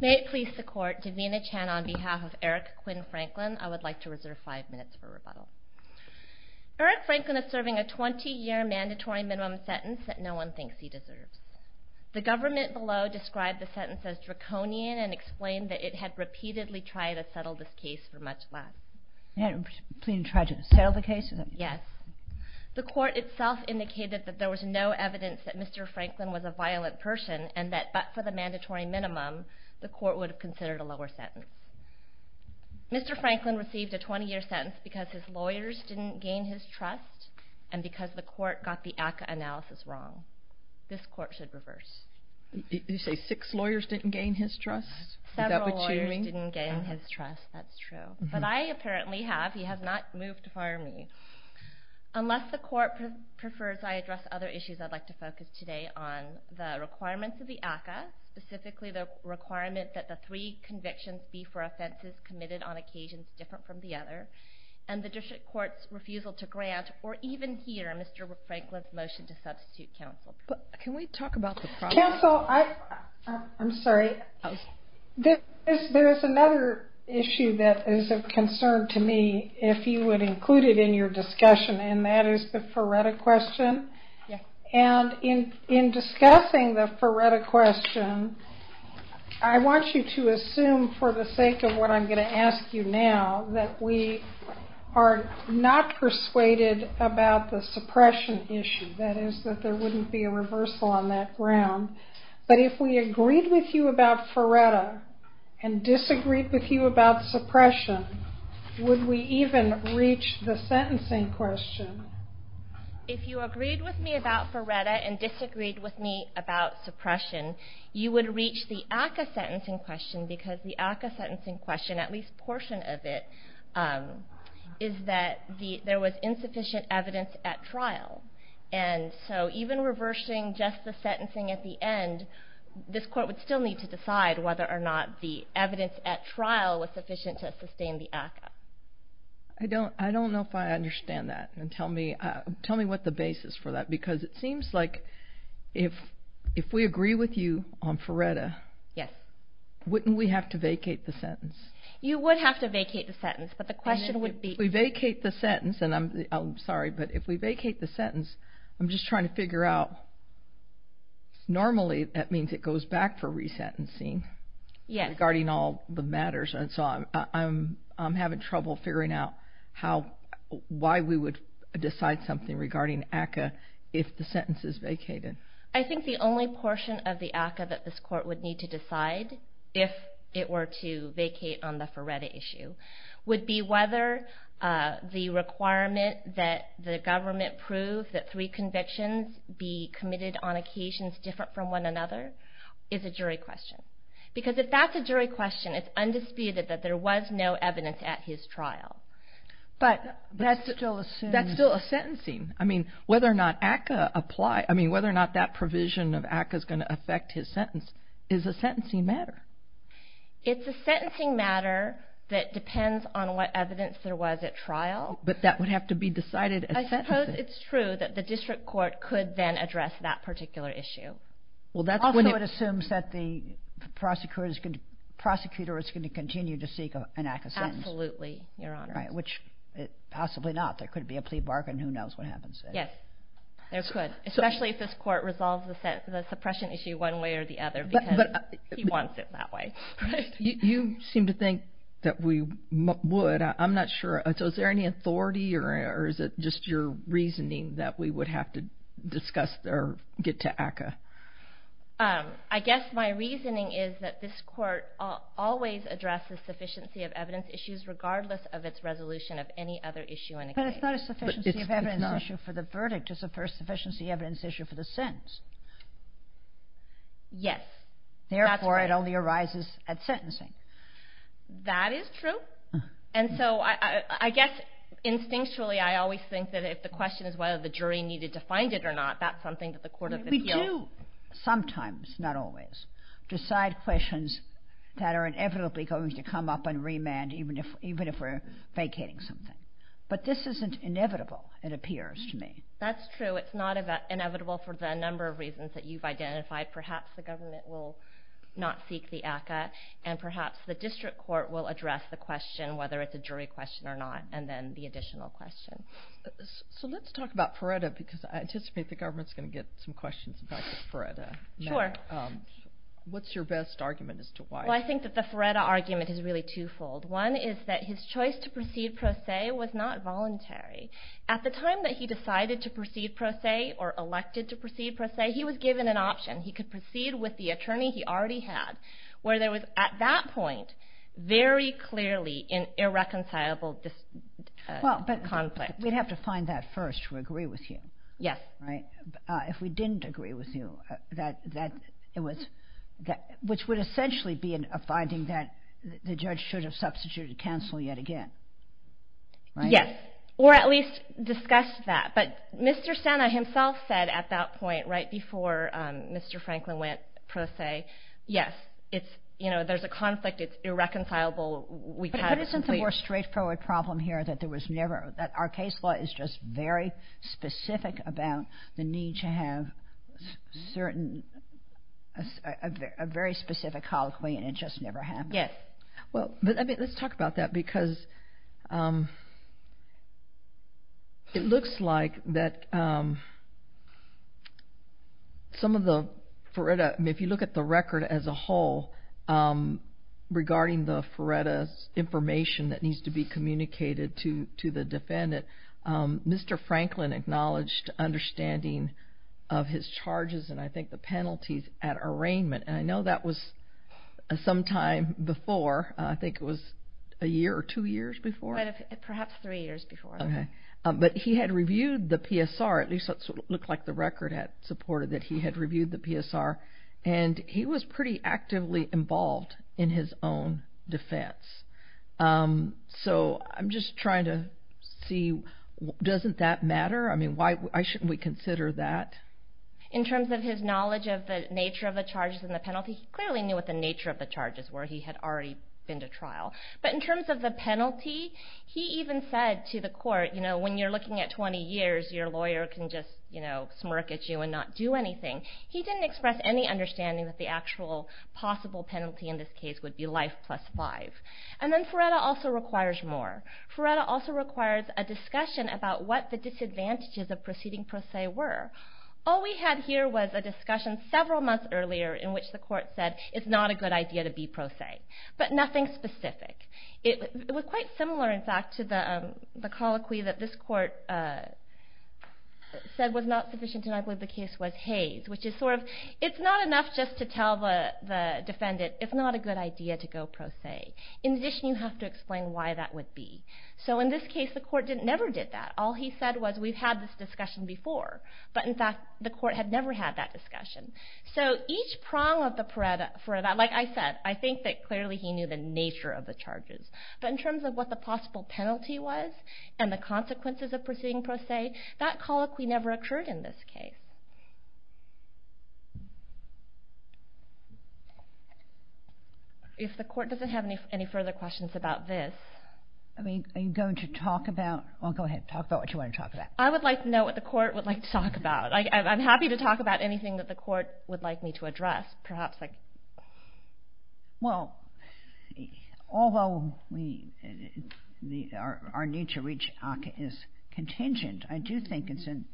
May it please the court, Davina Chan on behalf of Eric Quinn Franklin, I would like to reserve five minutes for rebuttal. Eric Franklin is serving a 20-year mandatory minimum sentence that no one thinks he deserves. The government below described the sentence as draconian and explained that it had repeatedly tried to settle this case for much less. It had repeatedly tried to settle the case? Yes. The court itself indicated that there was no evidence that Mr. Franklin was a violent person and that, but for the mandatory minimum, the court would have considered a lower sentence. Mr. Franklin received a 20-year sentence because his lawyers didn't gain his trust and because the court got the ACCA analysis wrong. This court should reverse. You say six lawyers didn't gain his trust? Is that what you mean? Several lawyers didn't gain his trust, that's true, but I apparently have. He has not moved to fire me. Unless the court prefers I address other issues, I'd like to focus today on the requirements of the ACCA, specifically the requirement that the three convictions be for offenses committed on occasions different from the other, and the district court's refusal to grant or even hear Mr. Franklin's motion to substitute counsel. Can we talk about the problem? Counsel, I'm sorry, there is another issue that is of concern to me. If you would include it in your discussion, and that is the Feretta question. In discussing the Feretta question, I want you to assume, for the sake of what I'm going to ask you now, that we are not persuaded about the suppression issue, that is, that there wouldn't be a reversal on that ground, but if we agreed with you about Feretta and disagreed with you about suppression, would we even reach the sentencing question? If you agreed with me about Feretta and disagreed with me about suppression, you would reach the ACCA sentencing question, because the ACCA sentencing question, at least a portion of it, is that there was insufficient evidence at trial. And so even reversing just the sentencing at the end, this court would still need to I don't know if I understand that, and tell me what the basis for that is, because it seems like if we agree with you on Feretta, wouldn't we have to vacate the sentence? You would have to vacate the sentence, but the question would be... If we vacate the sentence, I'm sorry, but if we vacate the sentence, I'm just trying to figure out, normally that means it goes back for resentencing, regarding all the matters, and so I'm having trouble figuring out why we would decide something regarding ACCA if the sentence is vacated. I think the only portion of the ACCA that this court would need to decide, if it were to vacate on the Feretta issue, would be whether the requirement that the government prove that three convictions be committed on occasions different from one another, is a jury question. Because if that's a jury question, it's undisputed that there was no evidence at his trial. But that's still a sentencing, I mean, whether or not ACCA apply, I mean, whether or not that provision of ACCA is going to affect his sentence, is a sentencing matter. It's a sentencing matter that depends on what evidence there was at trial. But that would have to be decided at sentencing. But I suppose it's true that the district court could then address that particular issue. Also, it assumes that the prosecutor is going to continue to seek an ACCA sentence. Absolutely, Your Honor. Right, which, possibly not, there could be a plea bargain, who knows what happens there. Yes, there could, especially if this court resolves the suppression issue one way or the other, because he wants it that way. You seem to think that we would. But I'm not sure, so is there any authority, or is it just your reasoning that we would have to discuss or get to ACCA? I guess my reasoning is that this court always addresses sufficiency of evidence issues regardless of its resolution of any other issue in a case. But it's not a sufficiency of evidence issue for the verdict, it's a sufficiency of evidence issue for the sentence. Yes, that's right. Therefore, it only arises at sentencing. That is true. And so, I guess, instinctually, I always think that if the question is whether the jury needed to find it or not, that's something that the Court of Appeals... We do, sometimes, not always, decide questions that are inevitably going to come up on remand even if we're vacating something. But this isn't inevitable, it appears to me. That's true. It's not inevitable for the number of reasons that you've identified. Perhaps the government will not seek the ACCA, and perhaps the district court will address the question, whether it's a jury question or not, and then the additional question. So let's talk about Ferretta, because I anticipate the government's going to get some questions about the Ferretta matter. Sure. What's your best argument as to why? Well, I think that the Ferretta argument is really twofold. One is that his choice to proceed pro se was not voluntary. At the time that he decided to proceed pro se, or elected to proceed pro se, he was given an option. He could proceed with the attorney he already had, where there was, at that point, very clearly an irreconcilable conflict. Well, but we'd have to find that first to agree with you. Yes. Right? If we didn't agree with you, which would essentially be a finding that the judge should have substituted counsel yet again. Right? Yes. Or at least discussed that. But Mr. Sena himself said at that point, right before Mr. Franklin went pro se, yes, there's a conflict. It's irreconcilable. But isn't the more straightforward problem here that our case law is just very specific about the need to have a very specific colloquy, and it just never happened? Yes. Well, let's talk about that, because it looks like that some of the, if you look at the record as a whole, regarding the FRERETA's information that needs to be communicated to the defendant, Mr. Franklin acknowledged understanding of his charges, and I think the penalties, at arraignment. And I know that was some time before, I think it was a year or two years before? Perhaps three years before. Okay. But he had reviewed the PSR, at least that's what it looked like the record had supported, that he had reviewed the PSR, and he was pretty actively involved in his own defense. So I'm just trying to see, doesn't that matter? I mean, why shouldn't we consider that? In terms of his knowledge of the nature of the charges and the penalty, he clearly knew what the nature of the charges were, he had already been to trial. But in terms of the penalty, he even said to the court, you know, when you're looking at 20 years, your lawyer can just, you know, smirk at you and not do anything. He didn't express any understanding that the actual possible penalty in this case would be life plus five. And then FRERETA also requires more. FRERETA also requires a discussion about what the disadvantages of proceeding pro se were. All we had here was a discussion several months earlier in which the court said, it's not a good idea to be pro se. But nothing specific. It was quite similar, in fact, to the colloquy that this court said was not sufficient, and I believe the case was Hays, which is sort of, it's not enough just to tell the defendant, it's not a good idea to go pro se. In addition, you have to explain why that would be. So in this case, the court never did that. All he said was, we've had this discussion before, but in fact, the court had never had that discussion. So each prong of the FRERETA, like I said, I think that clearly he knew the nature of the charges. But in terms of what the possible penalty was and the consequences of proceeding pro se, that colloquy never occurred in this case. If the court doesn't have any further questions about this. I mean, are you going to talk about, go ahead, talk about what you want to talk about. I would like to know what the court would like to talk about. I'm happy to talk about anything that the court would like me to address, perhaps like. Well, although our need to reach ACCA is contingent, I do think it's an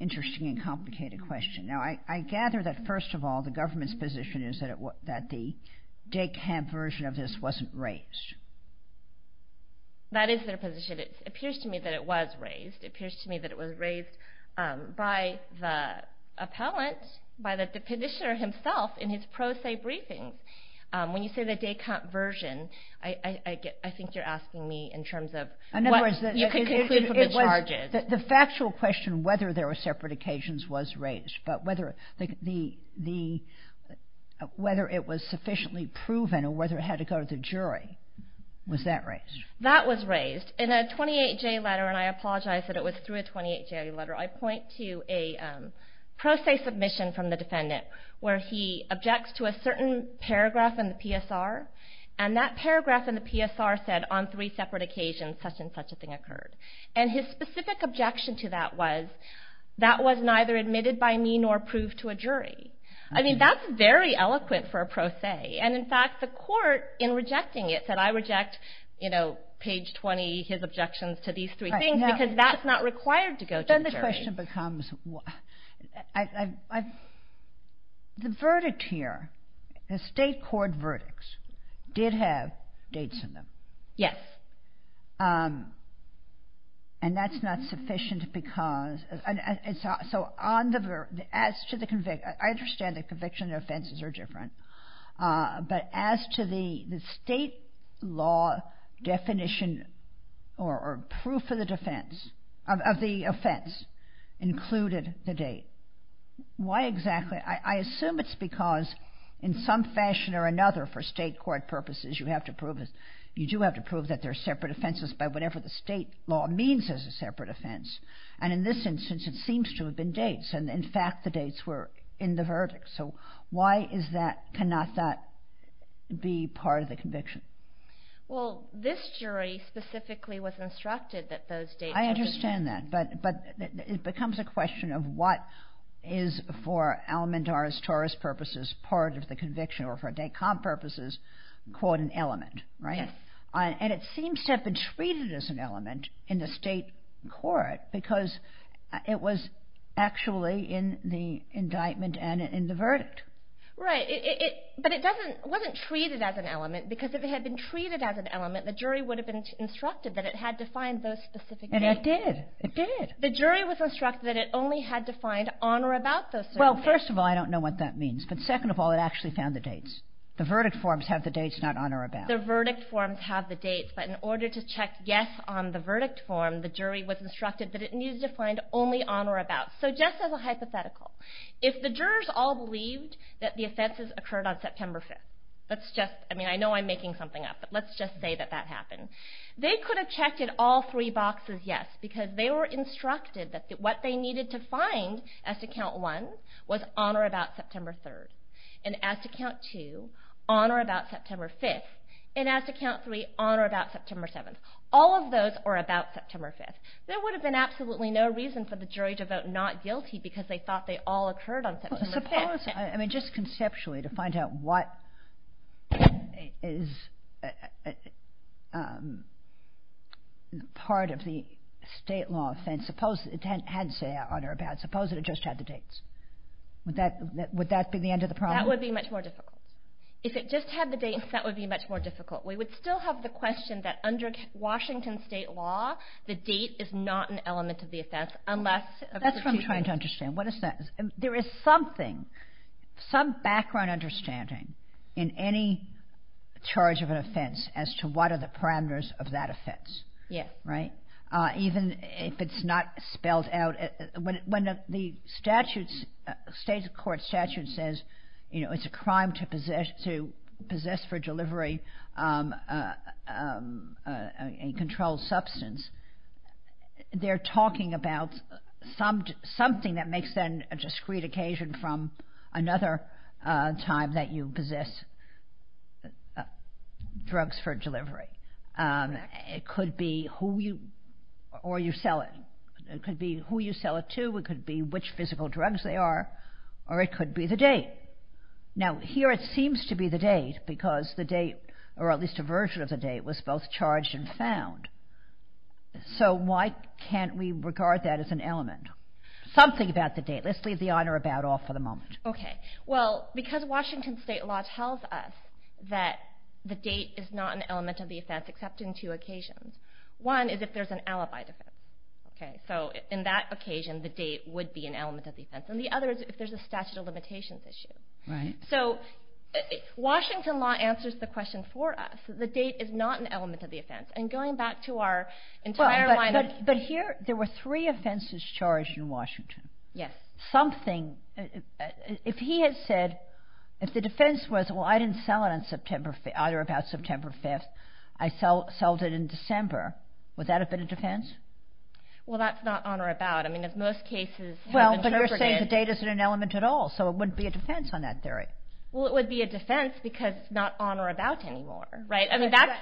interesting and complicated question. Now, I gather that first of all, the government's position is that the DECOMP version of this wasn't raised. That is their position. It appears to me that it was raised. It appears to me that it was raised by the appellant, by the petitioner himself in his pro se briefings. When you say the DECOMP version, I think you're asking me in terms of what you can conclude from the charges. The factual question whether there were separate occasions was raised, but whether it was sufficiently proven or whether it had to go to the jury, was that raised? That was raised. In a 28-J letter, and I apologize that it was through a 28-J letter, I point to a pro se submission from the defendant where he objects to a certain paragraph in the PSR. And that paragraph in the PSR said on three separate occasions such and such a thing occurred. And his specific objection to that was, that was neither admitted by me nor proved to a jury. I mean, that's very eloquent for a pro se. And in fact, the court in rejecting it said, I reject, you know, page 20, his objections to these three things because that's not required to go to the jury. Then the question becomes, the verdict here, the state court verdicts did have dates in them. Yes. And that's not sufficient because, so on the, as to the conviction, I understand the conviction and offenses are different, but as to the state law definition or proof of the defense, of the offense, included the date. Why exactly? I assume it's because in some fashion or another for state court purposes, you have to prove that they're separate offenses by whatever the state law means as a separate offense. And in this instance, it seems to have been dates. And in fact, the dates were in the verdict. So why is that, cannot that be part of the conviction? Well, this jury specifically was instructed that those dates. I understand that. But it becomes a question of what is for Alamandar's Taurus purposes, part of the conviction or for DACOM purposes, quote, an element, right? Yes. And it seems to have been treated as an element in the state court because it was actually in the indictment and in the verdict. Right. But it doesn't, wasn't treated as an element because if it had been treated as an element, the jury would have been instructed that it had to find those specific dates. And it did. It did. The jury was instructed that it only had to find on or about those specific dates. Well, first of all, I don't know what that means, but second of all, it actually found the dates. The verdict forms have the dates not on or about. The verdict forms have the dates, but in order to check yes on the verdict form, the jury was instructed that it needed to find only on or about. So just as a hypothetical, if the jurors all believed that the offenses occurred on September 5th, let's just, I mean, I know I'm making something up, but let's just say that that happened. They could have checked at all three boxes yes because they were instructed that what they needed to find as to count one was on or about September 3rd. And as to count two, on or about September 5th. And as to count three, on or about September 7th. All of those are about September 5th. There would have been absolutely no reason for the jury to vote not guilty because they thought they all occurred on September 5th. Well, suppose, I mean, just conceptually to find out what is part of the state law offense, suppose it had to say on or about, suppose that it just had the dates. Would that be the end of the problem? That would be much more difficult. If it just had the dates, that would be much more difficult. We would still have the question that under Washington state law, the date is not an element of the offense unless... That's what I'm trying to understand. What is that? There is something, some background understanding in any charge of an offense as to what are the parameters of that offense. Yes. Right? Even if it's not spelled out, when the statutes, state court statute says, you know, it's a crime to possess for delivery a controlled substance, they're talking about something that makes that a discreet occasion from another time that you possess drugs for delivery. It could be who you, or you sell it. It could be who you sell it to. It could be which physical drugs they are, or it could be the date. Now here it seems to be the date because the date, or at least a version of the date, was both charged and found. So why can't we regard that as an element? Something about the date. Let's leave the on or about off for the moment. Okay. Well, because Washington state law tells us that the date is not an element of the offense except in two occasions. One is if there's an alibi defense. Okay? So in that occasion, the date would be an element of the offense. And the other is if there's a statute of limitations issue. So Washington law answers the question for us. The date is not an element of the offense. And going back to our entire line of... But here, there were three offenses charged in Washington. Yes. Something... If he had said, if the defense was, well, I didn't sell it on September, either about September 5th, I sold it in December, would that have been a defense? Well, that's not on or about. I mean, as most cases... Well, but you're saying the date isn't an element at all, so it wouldn't be a defense on that theory. Well, it would be a defense because it's not on or about anymore. Right? I mean, that's...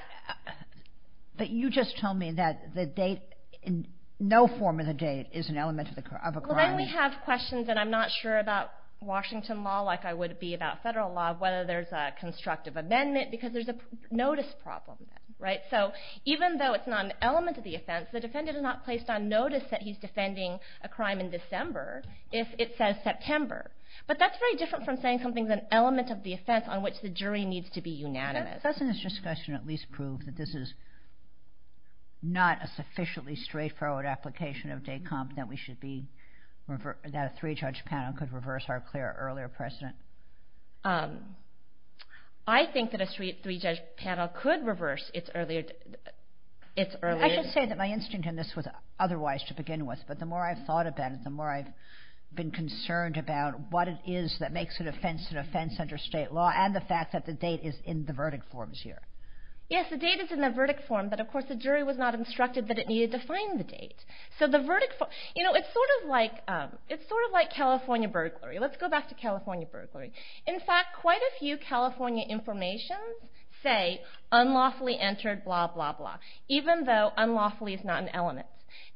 But you just told me that the date, in no form of the date, is an element of a crime. Well, then we have questions, and I'm not sure about Washington law, like I would be about federal law, whether there's a constructive amendment, because there's a notice problem there. Right? So even though it's not an element of the offense, the defendant is not placed on notice that he's defending a crime in December if it says September. But that's very different from saying something's an element of the offense on which the jury needs to be unanimous. Doesn't this discussion at least prove that this is not a sufficiently straightforward application of de compte, that a three-judge panel could reverse our clear earlier precedent? I think that a three-judge panel could reverse its earlier... I should say that my instinct in this was otherwise to begin with, but the more I've thought about it, the more I've been concerned about what it is that makes an offense an offense under state law, and the fact that the date is in the verdict forms here. Yes, the date is in the verdict form, but of course the jury was not instructed that it needed to find the date. So the verdict form... You know, it's sort of like California burglary. Let's go back to California burglary. In fact, quite a few California informations say, unlawfully entered, blah, blah, blah, even though unlawfully is not an element.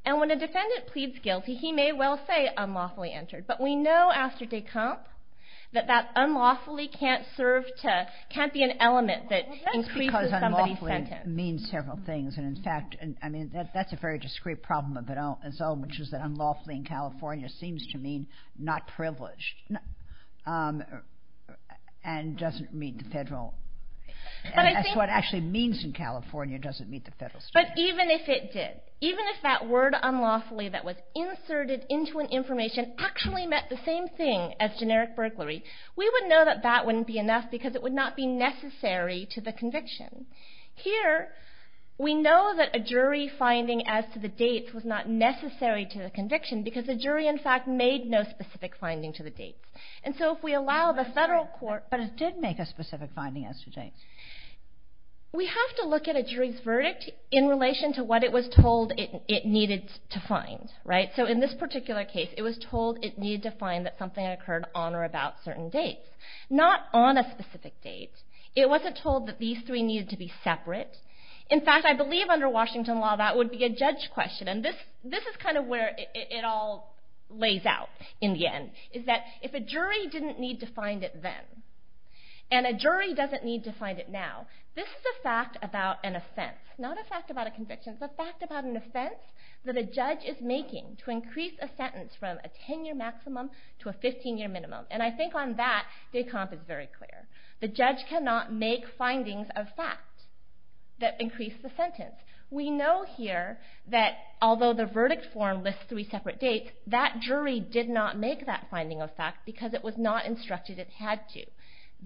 And when a defendant pleads guilty, he may well say unlawfully entered, but we know after de compte that that unlawfully can't be an element that increases somebody's sentence. That means several things, and in fact, that's a very discreet problem of its own, which is that unlawfully in California seems to mean not privileged, and doesn't meet the federal... But I think... That's what it actually means in California, doesn't meet the federal standards. But even if it did, even if that word unlawfully that was inserted into an information actually meant the same thing as generic burglary, we would know that that wouldn't be enough because it would not be necessary to the conviction. Here, we know that a jury finding as to the dates was not necessary to the conviction because the jury, in fact, made no specific finding to the dates. And so if we allow the federal court... But it did make a specific finding as to dates. We have to look at a jury's verdict in relation to what it was told it needed to find, right? So in this particular case, it was told it needed to find that something occurred on or about certain dates, not on a specific date. It wasn't told that these three needed to be separate. In fact, I believe under Washington law, that would be a judge question. And this is kind of where it all lays out in the end, is that if a jury didn't need to find it then, and a jury doesn't need to find it now, this is a fact about an offense. Not a fact about a conviction, it's a fact about an offense that a judge is making to increase a sentence from a 10-year maximum to a 15-year minimum. And I think on that, de Camp is very clear. The judge cannot make findings of fact that increase the sentence. We know here that although the verdict form lists three separate dates, that jury did not make that finding of fact because it was not instructed it had to.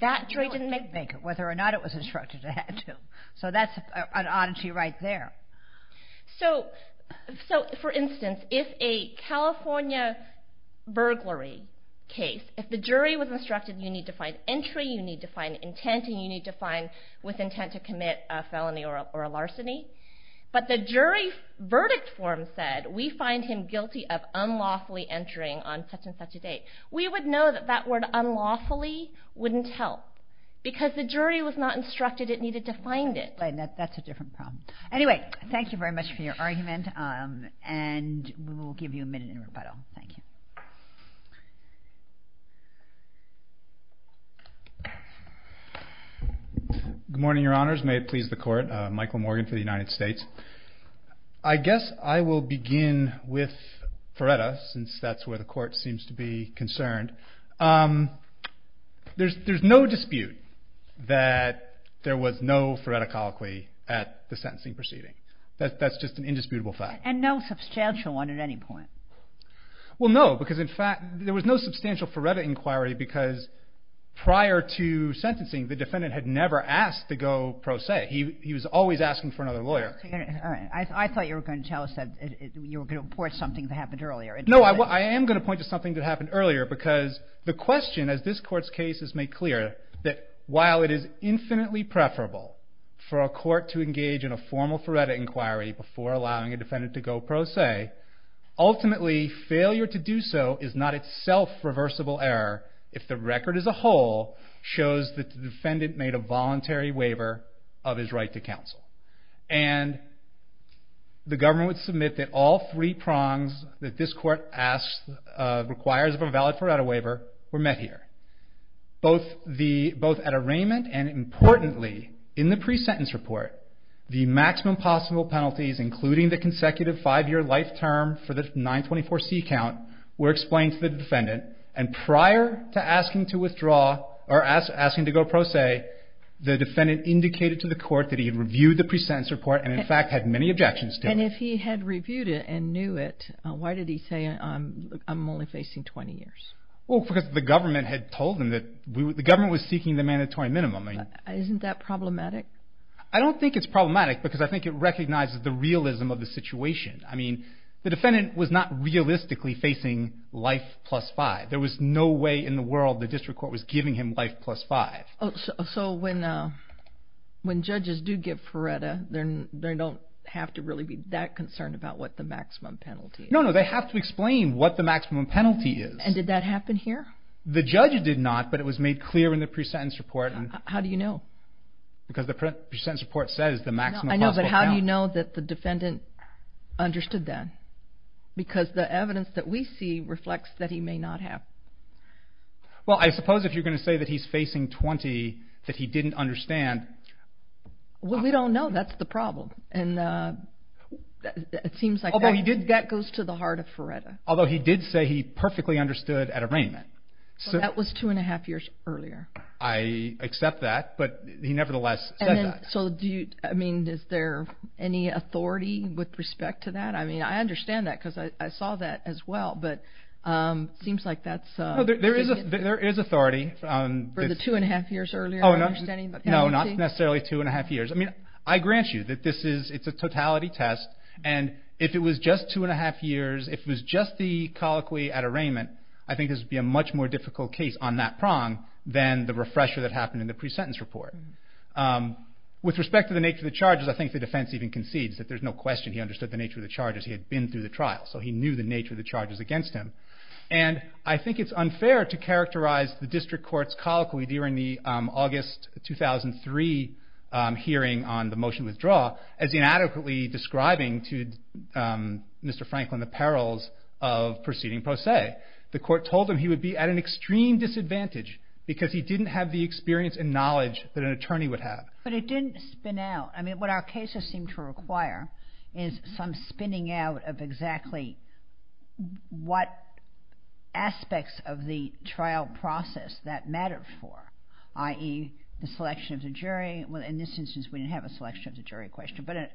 That jury didn't make... Whether or not it was instructed it had to. So that's an oddity right there. So for instance, if a California burglary case, if the jury was instructed you need to find entry, you need to find intent, and you need to find with intent to commit a felony or a larceny, but the jury verdict form said, we find him guilty of unlawfully entering on such and such a date. We would know that that word unlawfully wouldn't help because the jury was not instructed it needed to find it. That's a different problem. Anyway, thank you very much for your argument and we will give you a minute in rebuttal. Thank you. Good morning, your honors. May it please the court. Michael Morgan for the United States. I guess I will begin with Feretta since that's where the court seems to be concerned. There's no dispute that there was no Feretta colloquy at the sentencing proceeding. That's just an indisputable fact. And no substantial one at any point. Well, no, because in fact there was no substantial Feretta inquiry because prior to sentencing the defendant had never asked to go pro se. He was always asking for another lawyer. I thought you were going to tell us that you were going to point to something that happened earlier. No, I am going to point to something that happened earlier because the question as this court's case is made clear that while it is infinitely preferable for a court to engage in a formal Feretta inquiry before allowing a defendant to go pro se, ultimately failure to do so is not itself reversible error if the record as a whole shows that the defendant made a voluntary waiver of his right to counsel. And the government would submit that all three prongs that this court requires of a valid Feretta waiver were met here, both at arraignment and importantly in the pre-sentence report the maximum possible penalties including the consecutive five-year life term for the 924c count were explained to the defendant and prior to asking to withdraw or asking to go pro se, the defendant indicated to the court that he had reviewed the pre-sentence report and in fact had many objections to it. And if he had reviewed it and knew it, why did he say I'm only facing 20 years? Well, because the government had told him that the government was seeking the mandatory minimum. Isn't that problematic? I don't think it's problematic because I think it recognizes the realism of the situation. I mean, the defendant was not realistically facing life plus five. There was no way in the world the district court was giving him life plus five. So when judges do give Feretta, they don't have to really be that concerned about what the maximum penalty is? No, no. They have to explain what the maximum penalty is. And did that happen here? The judge did not, but it was made clear in the pre-sentence report. How do you know? Because the pre-sentence report says the maximum possible penalty. I know, but how do you know that the defendant understood that? Because the evidence that we see reflects that he may not have. Well, I suppose if you're going to say that he's facing 20, that he didn't understand. Well, we don't know. That's the problem. And it seems like that goes to the heart of Feretta. Although he did say he perfectly understood at arraignment. So that was two and a half years earlier. I accept that, but he nevertheless said that. So do you, I mean, is there any authority with respect to that? I mean, I understand that because I saw that as well, but it seems like that's... There is authority. For the two and a half years earlier, I'm understanding the penalty? Oh, no. Not necessarily two and a half years. I mean, I grant you that this is, it's a totality test. And if it was just two and a half years, if it was just the colloquy at arraignment, I understand the refresher that happened in the pre-sentence report. With respect to the nature of the charges, I think the defense even concedes that there's no question he understood the nature of the charges. He had been through the trial, so he knew the nature of the charges against him. And I think it's unfair to characterize the district court's colloquy during the August 2003 hearing on the motion withdrawal as inadequately describing to Mr. Franklin the perils of proceeding pro se. The court told him he would be at an extreme disadvantage because he didn't have the experience and knowledge that an attorney would have. But it didn't spin out. I mean, what our cases seem to require is some spinning out of exactly what aspects of the trial process that mattered for, i.e. the selection of the jury. Well, in this instance, we didn't have a selection of the jury question. But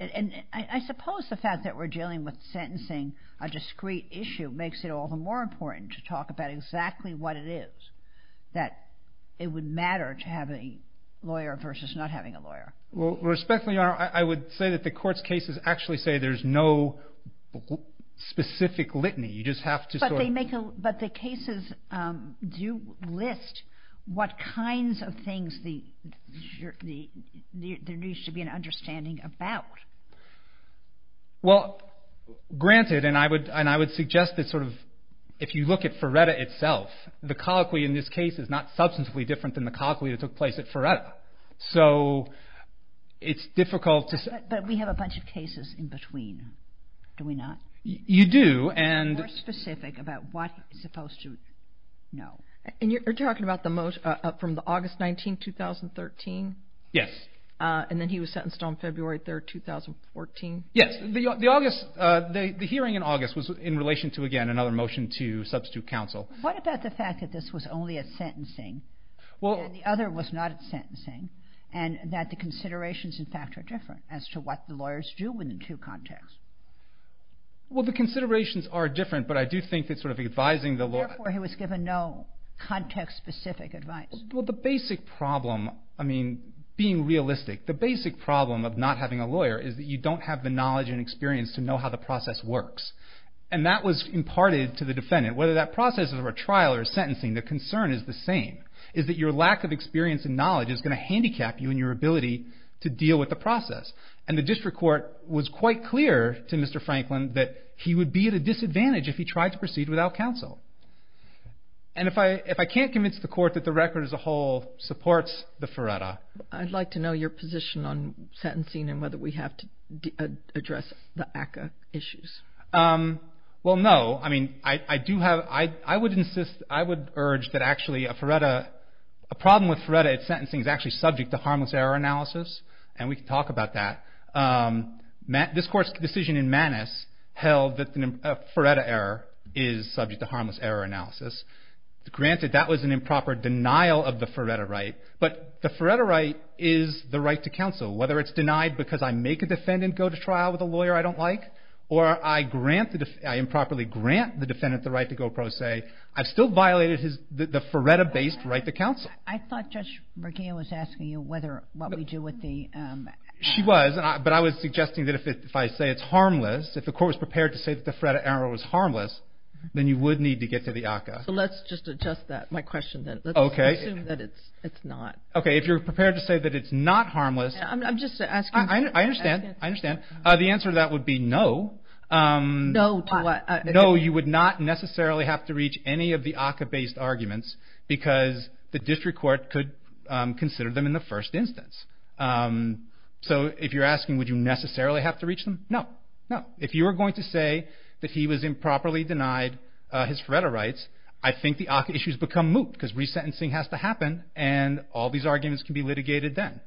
I suppose the fact that we're dealing with sentencing, a discrete issue, makes it all the more important to talk about exactly what it is, that it would matter to have a lawyer versus not having a lawyer. Well, respectfully, Your Honor, I would say that the court's cases actually say there's no specific litany. You just have to sort of... But the cases do list what kinds of things there needs to be an understanding about. Well, granted, and I would suggest that sort of if you look at Ferretta itself, the colloquy in this case is not substantively different than the colloquy that took place at Ferretta. So it's difficult to... But we have a bunch of cases in between, do we not? You do. It's more specific about what he's supposed to know. And you're talking about the most... From the August 19th, 2013? Yes. And then he was sentenced on February 3rd, 2014? Yes. The August... The hearing in August was in relation to, again, another motion to substitute counsel. What about the fact that this was only a sentencing and the other was not a sentencing, and that the considerations, in fact, are different as to what the lawyers do within two contexts? Well, the considerations are different, but I do think that sort of advising the lawyer... Therefore, he was given no context-specific advice. Well, the basic problem, I mean, being realistic, the basic problem of not having a lawyer is that you don't have the knowledge and experience to know how the process works. And that was imparted to the defendant. Whether that process is a trial or a sentencing, the concern is the same, is that your lack of experience and knowledge is going to handicap you in your ability to deal with the process. And the district court was quite clear to Mr. Franklin that he would be at a disadvantage if he tried to proceed without counsel. And if I can't convince the court that the record as a whole supports the FRERETA... I'd like to know your position on sentencing and whether we have to address the ACCA issues. Well, no. I mean, I do have... I would insist... I would urge that actually a FRERETA... A problem with FRERETA at sentencing is actually subject to harmless error analysis, and we can talk about that. This court's decision in Manus held that a FRERETA error is subject to harmless error analysis. Granted, that was an improper denial of the FRERETA right, but the FRERETA right is the right to counsel. Whether it's denied because I make a defendant go to trial with a lawyer I don't like, or I grant... I improperly grant the defendant the right to go pro se, I've still violated the FRERETA-based right to counsel. I thought Judge McGeough was asking you what we do with the... She was, but I was suggesting that if I say it's harmless, if the court was prepared to say that the FRERETA error was harmless, then you would need to get to the ACCA. So let's just adjust that, my question then. Okay. Let's assume that it's not. Okay, if you're prepared to say that it's not harmless... I'm just asking... I understand. I understand. The answer to that would be no. No to what? The district court could consider them in the first instance. So if you're asking would you necessarily have to reach them, no, no. If you were going to say that he was improperly denied his FRERETA rights, I think the ACCA issues become moot because resentencing has to happen and all these arguments can be litigated then.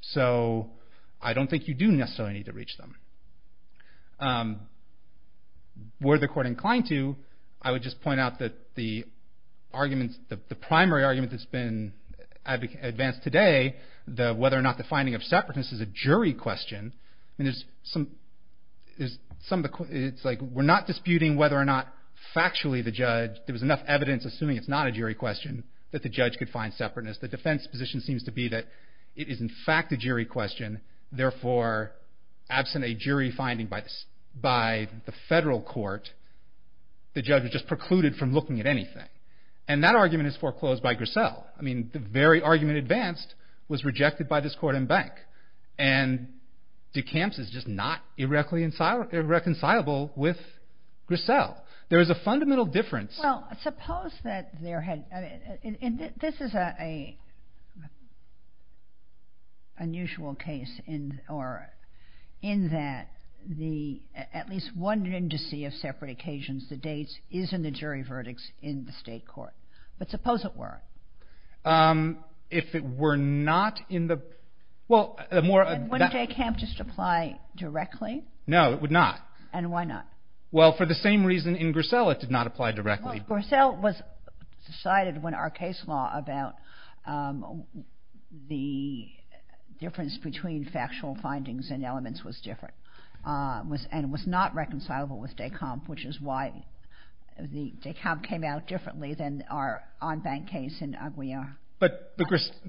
So I don't think you do necessarily need to reach them. Were the court inclined to, I would just point out that the arguments, the primary argument that's been advanced today, the whether or not the finding of separateness is a jury question and there's some, it's like we're not disputing whether or not factually the judge, there was enough evidence assuming it's not a jury question that the judge could find separateness. The defense position seems to be that it is in fact a jury question, therefore absent a jury finding by the federal court, the judge was just precluded from looking at anything. And that argument is foreclosed by Grissel. I mean the very argument advanced was rejected by this court and bank. And DeCamps is just not irreconcilable with Grissel. There is a fundamental difference. Well, suppose that there had, this is an unusual case in that the, at least one indice of separate occasions, the dates is in the jury verdicts in the state court. But suppose it were. If it were not in the, well, the more, wouldn't DeCamps just apply directly? No, it would not. And why not? Well, for the same reason in Grissel it did not apply directly. Well, Grissel was decided when our case law about the difference between factual findings and elements was different and was not reconcilable with DeCamps, which is why the DeCamps came out differently than our on-bank case in Aguillon. But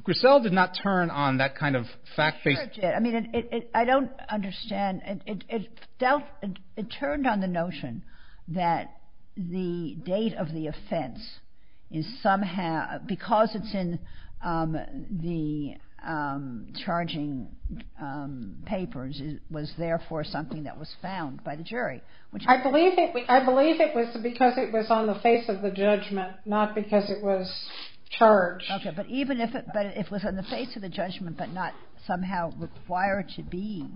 Grissel did not turn on that kind of fact-based. It did. I mean, I don't understand. It turned on the notion that the date of the offense is somehow, because it's in the charging papers, was therefore something that was found by the jury. I believe it was because it was on the face of the judgment, not because it was charged. Okay, but even if it was on the face of the judgment but not somehow required to be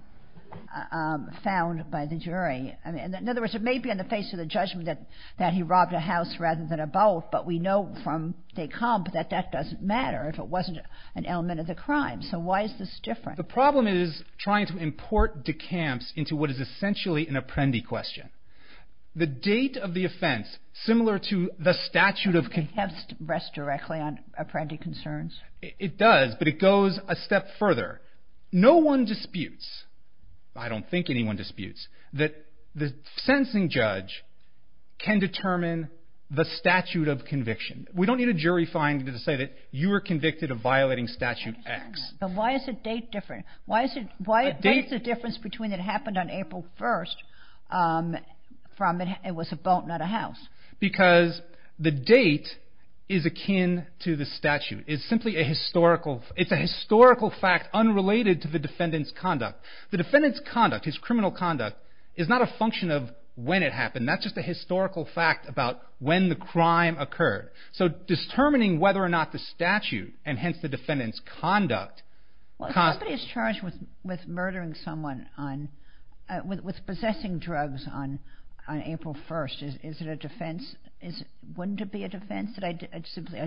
found by the jury. I mean, in other words, it may be on the face of the judgment that he robbed a house rather than a boat, but we know from DeCamps that that doesn't matter if it wasn't an element of the crime. So why is this different? The problem is trying to import DeCamps into what is essentially an apprendi question. The date of the offense, similar to the statute of... DeCamps rests directly on apprendi concerns. It does, but it goes a step further. No one disputes, I don't think anyone disputes, that the sentencing judge can determine the statute of conviction. We don't need a jury finding to say that you were convicted of violating statute X. But why is the date different? Why is the difference between it happened on April 1st from it was a boat, not a house? Because the date is akin to the statute. It's simply a historical... It's a historical fact unrelated to the defendant's conduct. The defendant's conduct, his criminal conduct, is not a function of when it happened. That's just a historical fact about when the crime occurred. So determining whether or not the statute, and hence the defendant's conduct... Well, if somebody is charged with murdering someone on... With possessing drugs on April 1st, is it a defense... Wouldn't it be a defense that I simply...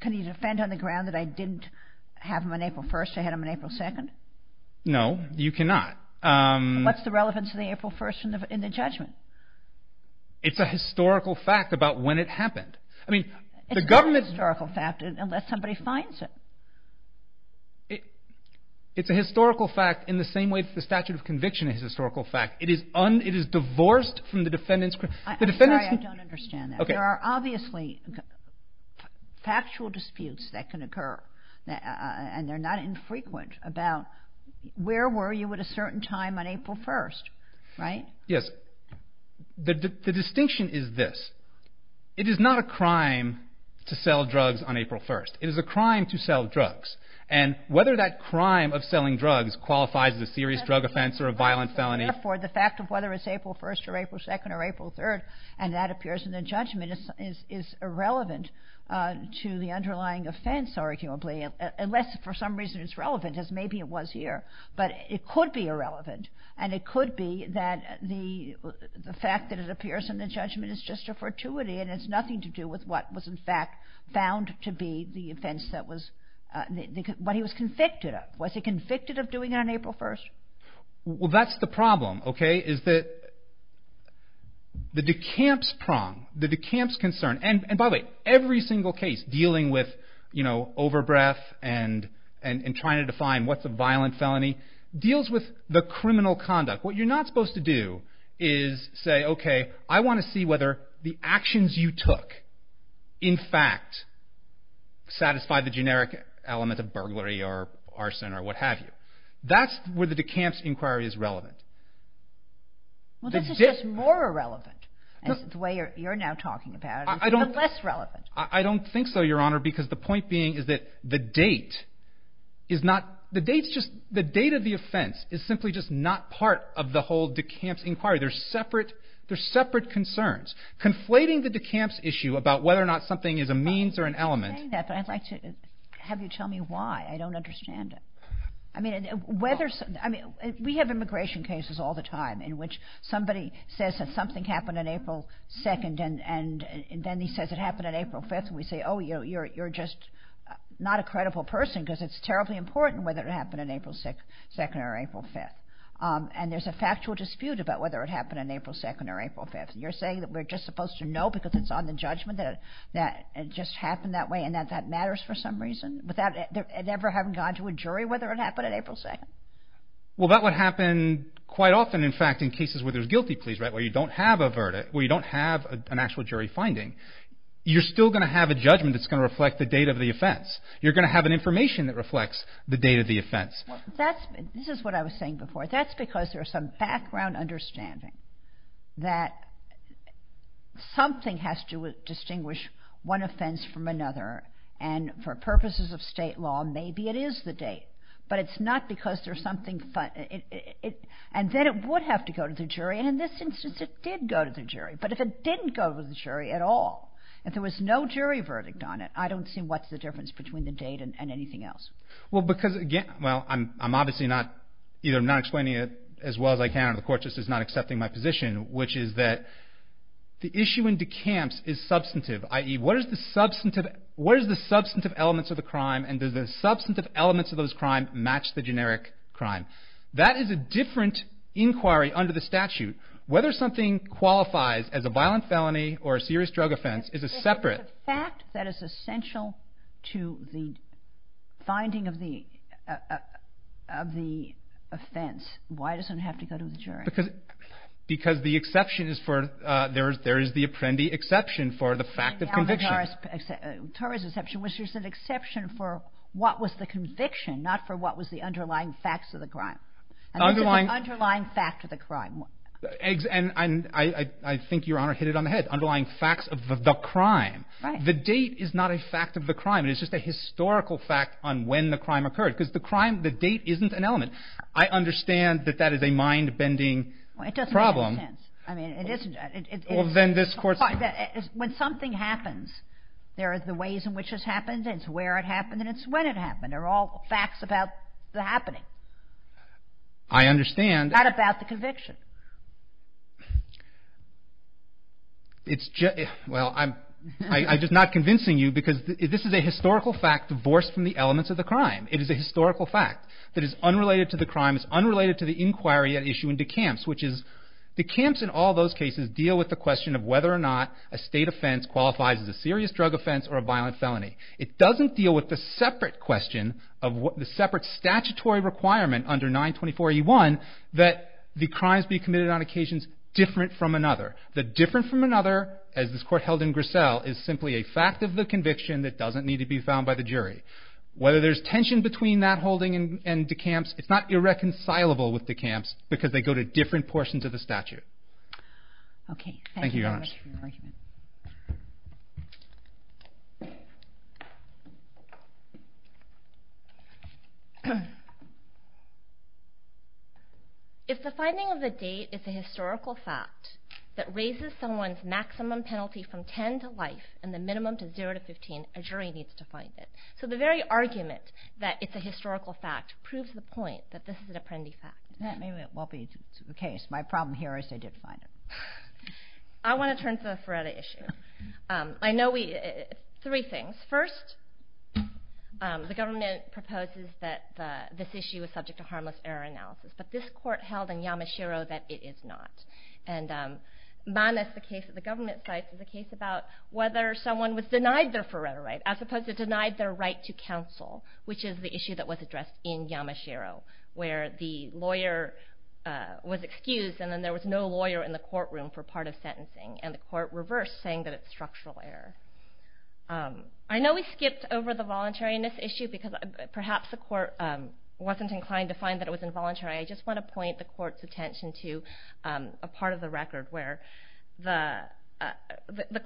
Can you defend on the ground that I didn't have him on April 1st, I had him on April 2nd? No, you cannot. What's the relevance of the April 1st in the judgment? It's a historical fact about when it happened. I mean, the government... It's not a historical fact unless somebody finds it. It's a historical fact in the same way that the statute of conviction is a historical fact. It is divorced from the defendant's... I'm sorry, I don't understand that. There are obviously factual disputes that can occur, and they're not infrequent about where were you at a certain time on April 1st, right? Yes. The distinction is this. It is not a crime to sell drugs on April 1st. It is a crime to sell drugs. And whether that crime of selling drugs qualifies as a serious drug offense or a violent felony... Therefore, the fact of whether it's April 1st or April 2nd or April 3rd, and that appears in the judgment, is irrelevant to the underlying offense, arguably, unless for some reason it's relevant, as maybe it was here. But it could be irrelevant, and it could be that the fact that it appears in the judgment is just a fortuity, and it's nothing to do with what was, in fact, found to be the offense that was... What he was convicted of. Was he convicted of doing it on April 1st? Well, that's the problem, okay? Is that the decamps prong, the decamps concern, and by the way, every single case dealing with overbreath and trying to define what's a violent felony deals with the criminal conduct. What you're not supposed to do is say, okay, I want to see whether the actions you took, in fact, satisfy the generic element of burglary or arson or what have you. That's where the decamps inquiry is relevant. Well, this is just more irrelevant, the way you're now talking about it. It's even less relevant. I don't think so, Your Honor, because the point being is that the date is not... The date of the offense is simply just not part of the whole decamps inquiry. They're separate concerns. Conflating the decamps issue about whether or not something is a means or an element... I'm not saying that, but I'd like to have you tell me why. I don't understand it. We have immigration cases all the time in which somebody says that something happened on April 2nd and then he says it happened on April 5th and we say, oh, you're just not a credible person because it's terribly important whether it happened on April 2nd or April 5th. And there's a factual dispute about whether it happened on April 2nd or April 5th. You're saying that we're just supposed to know because it's on the judgment that it just happened that way and that that matters for some reason without ever having gone to a jury whether it happened on April 2nd? Well, that would happen quite often, in fact, in cases where there's guilty pleas, right, where you don't have a verdict, where you don't have an actual jury finding. You're still going to have a judgment that's going to reflect the date of the offense. You're going to have an information that reflects the date of the offense. This is what I was saying before. That's because there's some background understanding that something has to distinguish one offense from another. And for purposes of state law, maybe it is the date, but it's not because there's something... And then it would have to go to the jury, and in this instance, it did go to the jury. But if it didn't go to the jury at all, if there was no jury verdict on it, I don't see what's the difference between the date and anything else. Well, because, again, well, I'm obviously not, either I'm not explaining it as well as I can or the court just is not accepting my position, which is that the issue in DeKamps is substantive, i.e., what is the substantive elements of the crime and does the substantive elements of those crimes match the generic crime. That is a different inquiry under the statute. Whether something qualifies as a violent felony or a serious drug offense is a separate... But if it's a fact that is essential to the finding of the offense, why does it have to go to the jury? Because the exception is for, there is the Apprendi exception for the fact of conviction. The Torres exception, which is an exception for what was the conviction, not for what was the underlying facts of the crime. Underlying... The underlying fact of the crime. And I think Your Honor hit it on the head, underlying facts of the crime. The date is not a fact of the crime, it's just a historical fact on when the crime occurred, because the crime, the date isn't an element. I understand that that is a mind-bending problem. It doesn't make sense. I mean, it isn't. Well, then this court... When something happens, there are the ways in which it happens, it's where it happened, and it's when it happened. They're all facts about the happening. I understand. Not about the conviction. It's just... Well, I'm just not convincing you, because this is a historical fact divorced from the elements of the crime. It is a historical fact that is unrelated to the crime, it's unrelated to the inquiry at issue in DeCamps, which is DeCamps in all those cases deal with the question of whether or not a state offense qualifies as a serious drug offense or a violent felony. It doesn't deal with the separate question of what the separate statutory requirement under 924E1 that the crimes be committed on occasions different from another. The different from another, as this court held in Grissel, is simply a fact of the conviction that doesn't need to be found by the jury. Whether there's tension between that holding and DeCamps, it's not irreconcilable with DeCamps, because they go to different portions of the statute. Okay. Thank you, Your Honor. Thank you very much for your argument. If the finding of the date is a historical fact that raises someone's maximum penalty from 10 to life and the minimum to 0 to 15, a jury needs to find it. So the very argument that it's a historical fact proves the point that this is an Apprendi fact. That maybe won't be the case. My problem here is they did find it. I want to turn to the Feretta issue. I know we... Three things. First, the government proposes that this issue is subject to harmless error analysis, but this court held in Yamashiro that it is not. And minus the case that the government cites is a case about whether someone was denied their Feretta right, as opposed to denied their right to counsel, which is the issue that was addressed in Yamashiro, where the lawyer was excused and then there was no lawyer in the courtroom for part of sentencing. And the court reversed, saying that it's structural error. I know we skipped over the voluntariness issue because perhaps the court wasn't inclined to find that it was involuntary. I just want to point the court's attention to a part of the record where the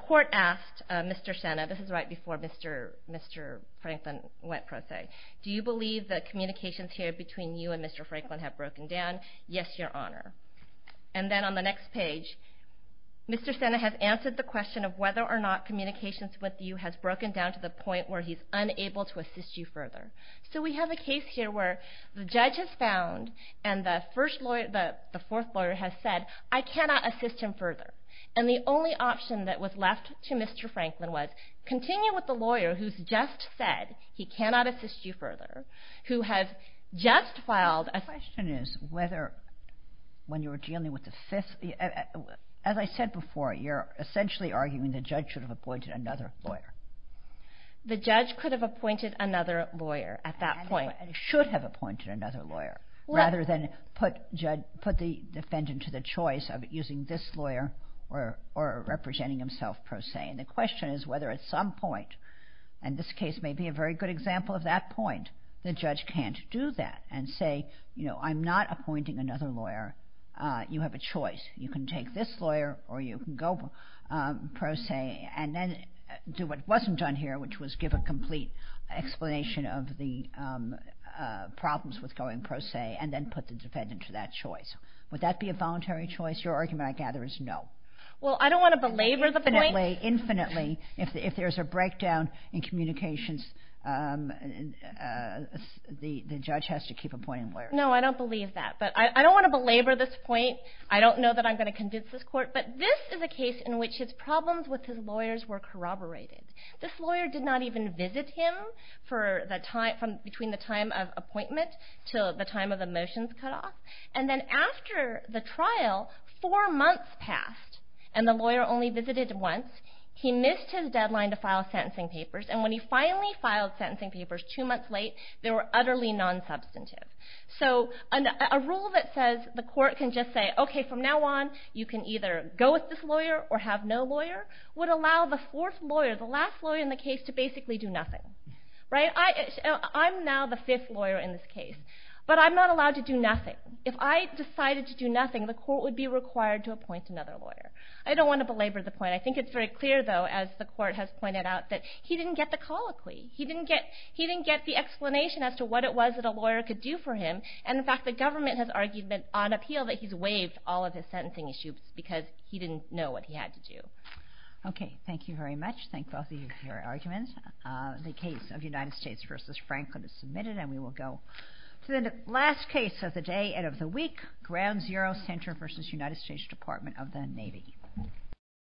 court asked Mr. Sena, this is right before Mr. Franklin went pro se, do you believe that communications here between you and Mr. Franklin have broken down? Yes, Your Honor. And then on the next page, Mr. Sena has answered the question of whether or not communications with you has broken down to the point where he's unable to assist you further. So we have a case here where the judge has found and the fourth lawyer has said, I cannot assist him further. And the only option that was left to Mr. Franklin was, continue with the lawyer who's just said he cannot assist you further, who has just filed a... The question is whether when you were dealing with the fifth, as I said before, you're essentially arguing the judge should have appointed another lawyer. The judge could have appointed another lawyer at that point. And should have appointed another lawyer rather than put the defendant to the choice of using this lawyer or representing himself pro se. And the question is whether at some point, and this case may be a very good example of that point, the judge can't do that and say, you know, I'm not appointing another lawyer. You have a choice. You can take this lawyer or you can go pro se and then do what wasn't done here, which was give a complete explanation of the problems with going pro se and then put the defendant to that choice. Would that be a voluntary choice? Your argument, I gather, is no. Well, I don't want to belabor the point. I can't delay infinitely if there's a breakdown in communications. The judge has to keep appointing lawyers. No, I don't believe that. But I don't want to belabor this point. I don't know that I'm going to convince this court. But this is a case in which his problems with his lawyers were corroborated. This lawyer did not even visit him for the time, from between the time of appointment to the time of the motions cutoff. And then after the trial, four months passed and the lawyer only visited once. He missed his deadline to file sentencing papers. And when he finally filed sentencing papers two months late, they were utterly non-substantive. So a rule that says the court can just say, OK, from now on, you can either go with this lawyer or have no lawyer would allow the fourth lawyer, the last lawyer in the case, to basically do nothing. Right? I'm now the fifth lawyer in this case. But I'm not allowed to do nothing. If I decided to do nothing, the court would be required to appoint another lawyer. I don't want to belabor the point. I think it's very clear, though, as the court has pointed out, that he didn't get the colloquy. He didn't get the explanation as to what it was that a lawyer could do for him. And in fact, the government has argued on appeal that he's waived all of his sentencing issues because he didn't know what he had to do. OK. Thank you very much. Thank both of you for your arguments. The case of United States v. Franklin is submitted, and we will go to the last case of the day and of the week, Ground Zero Center v. United States Department of the Navy.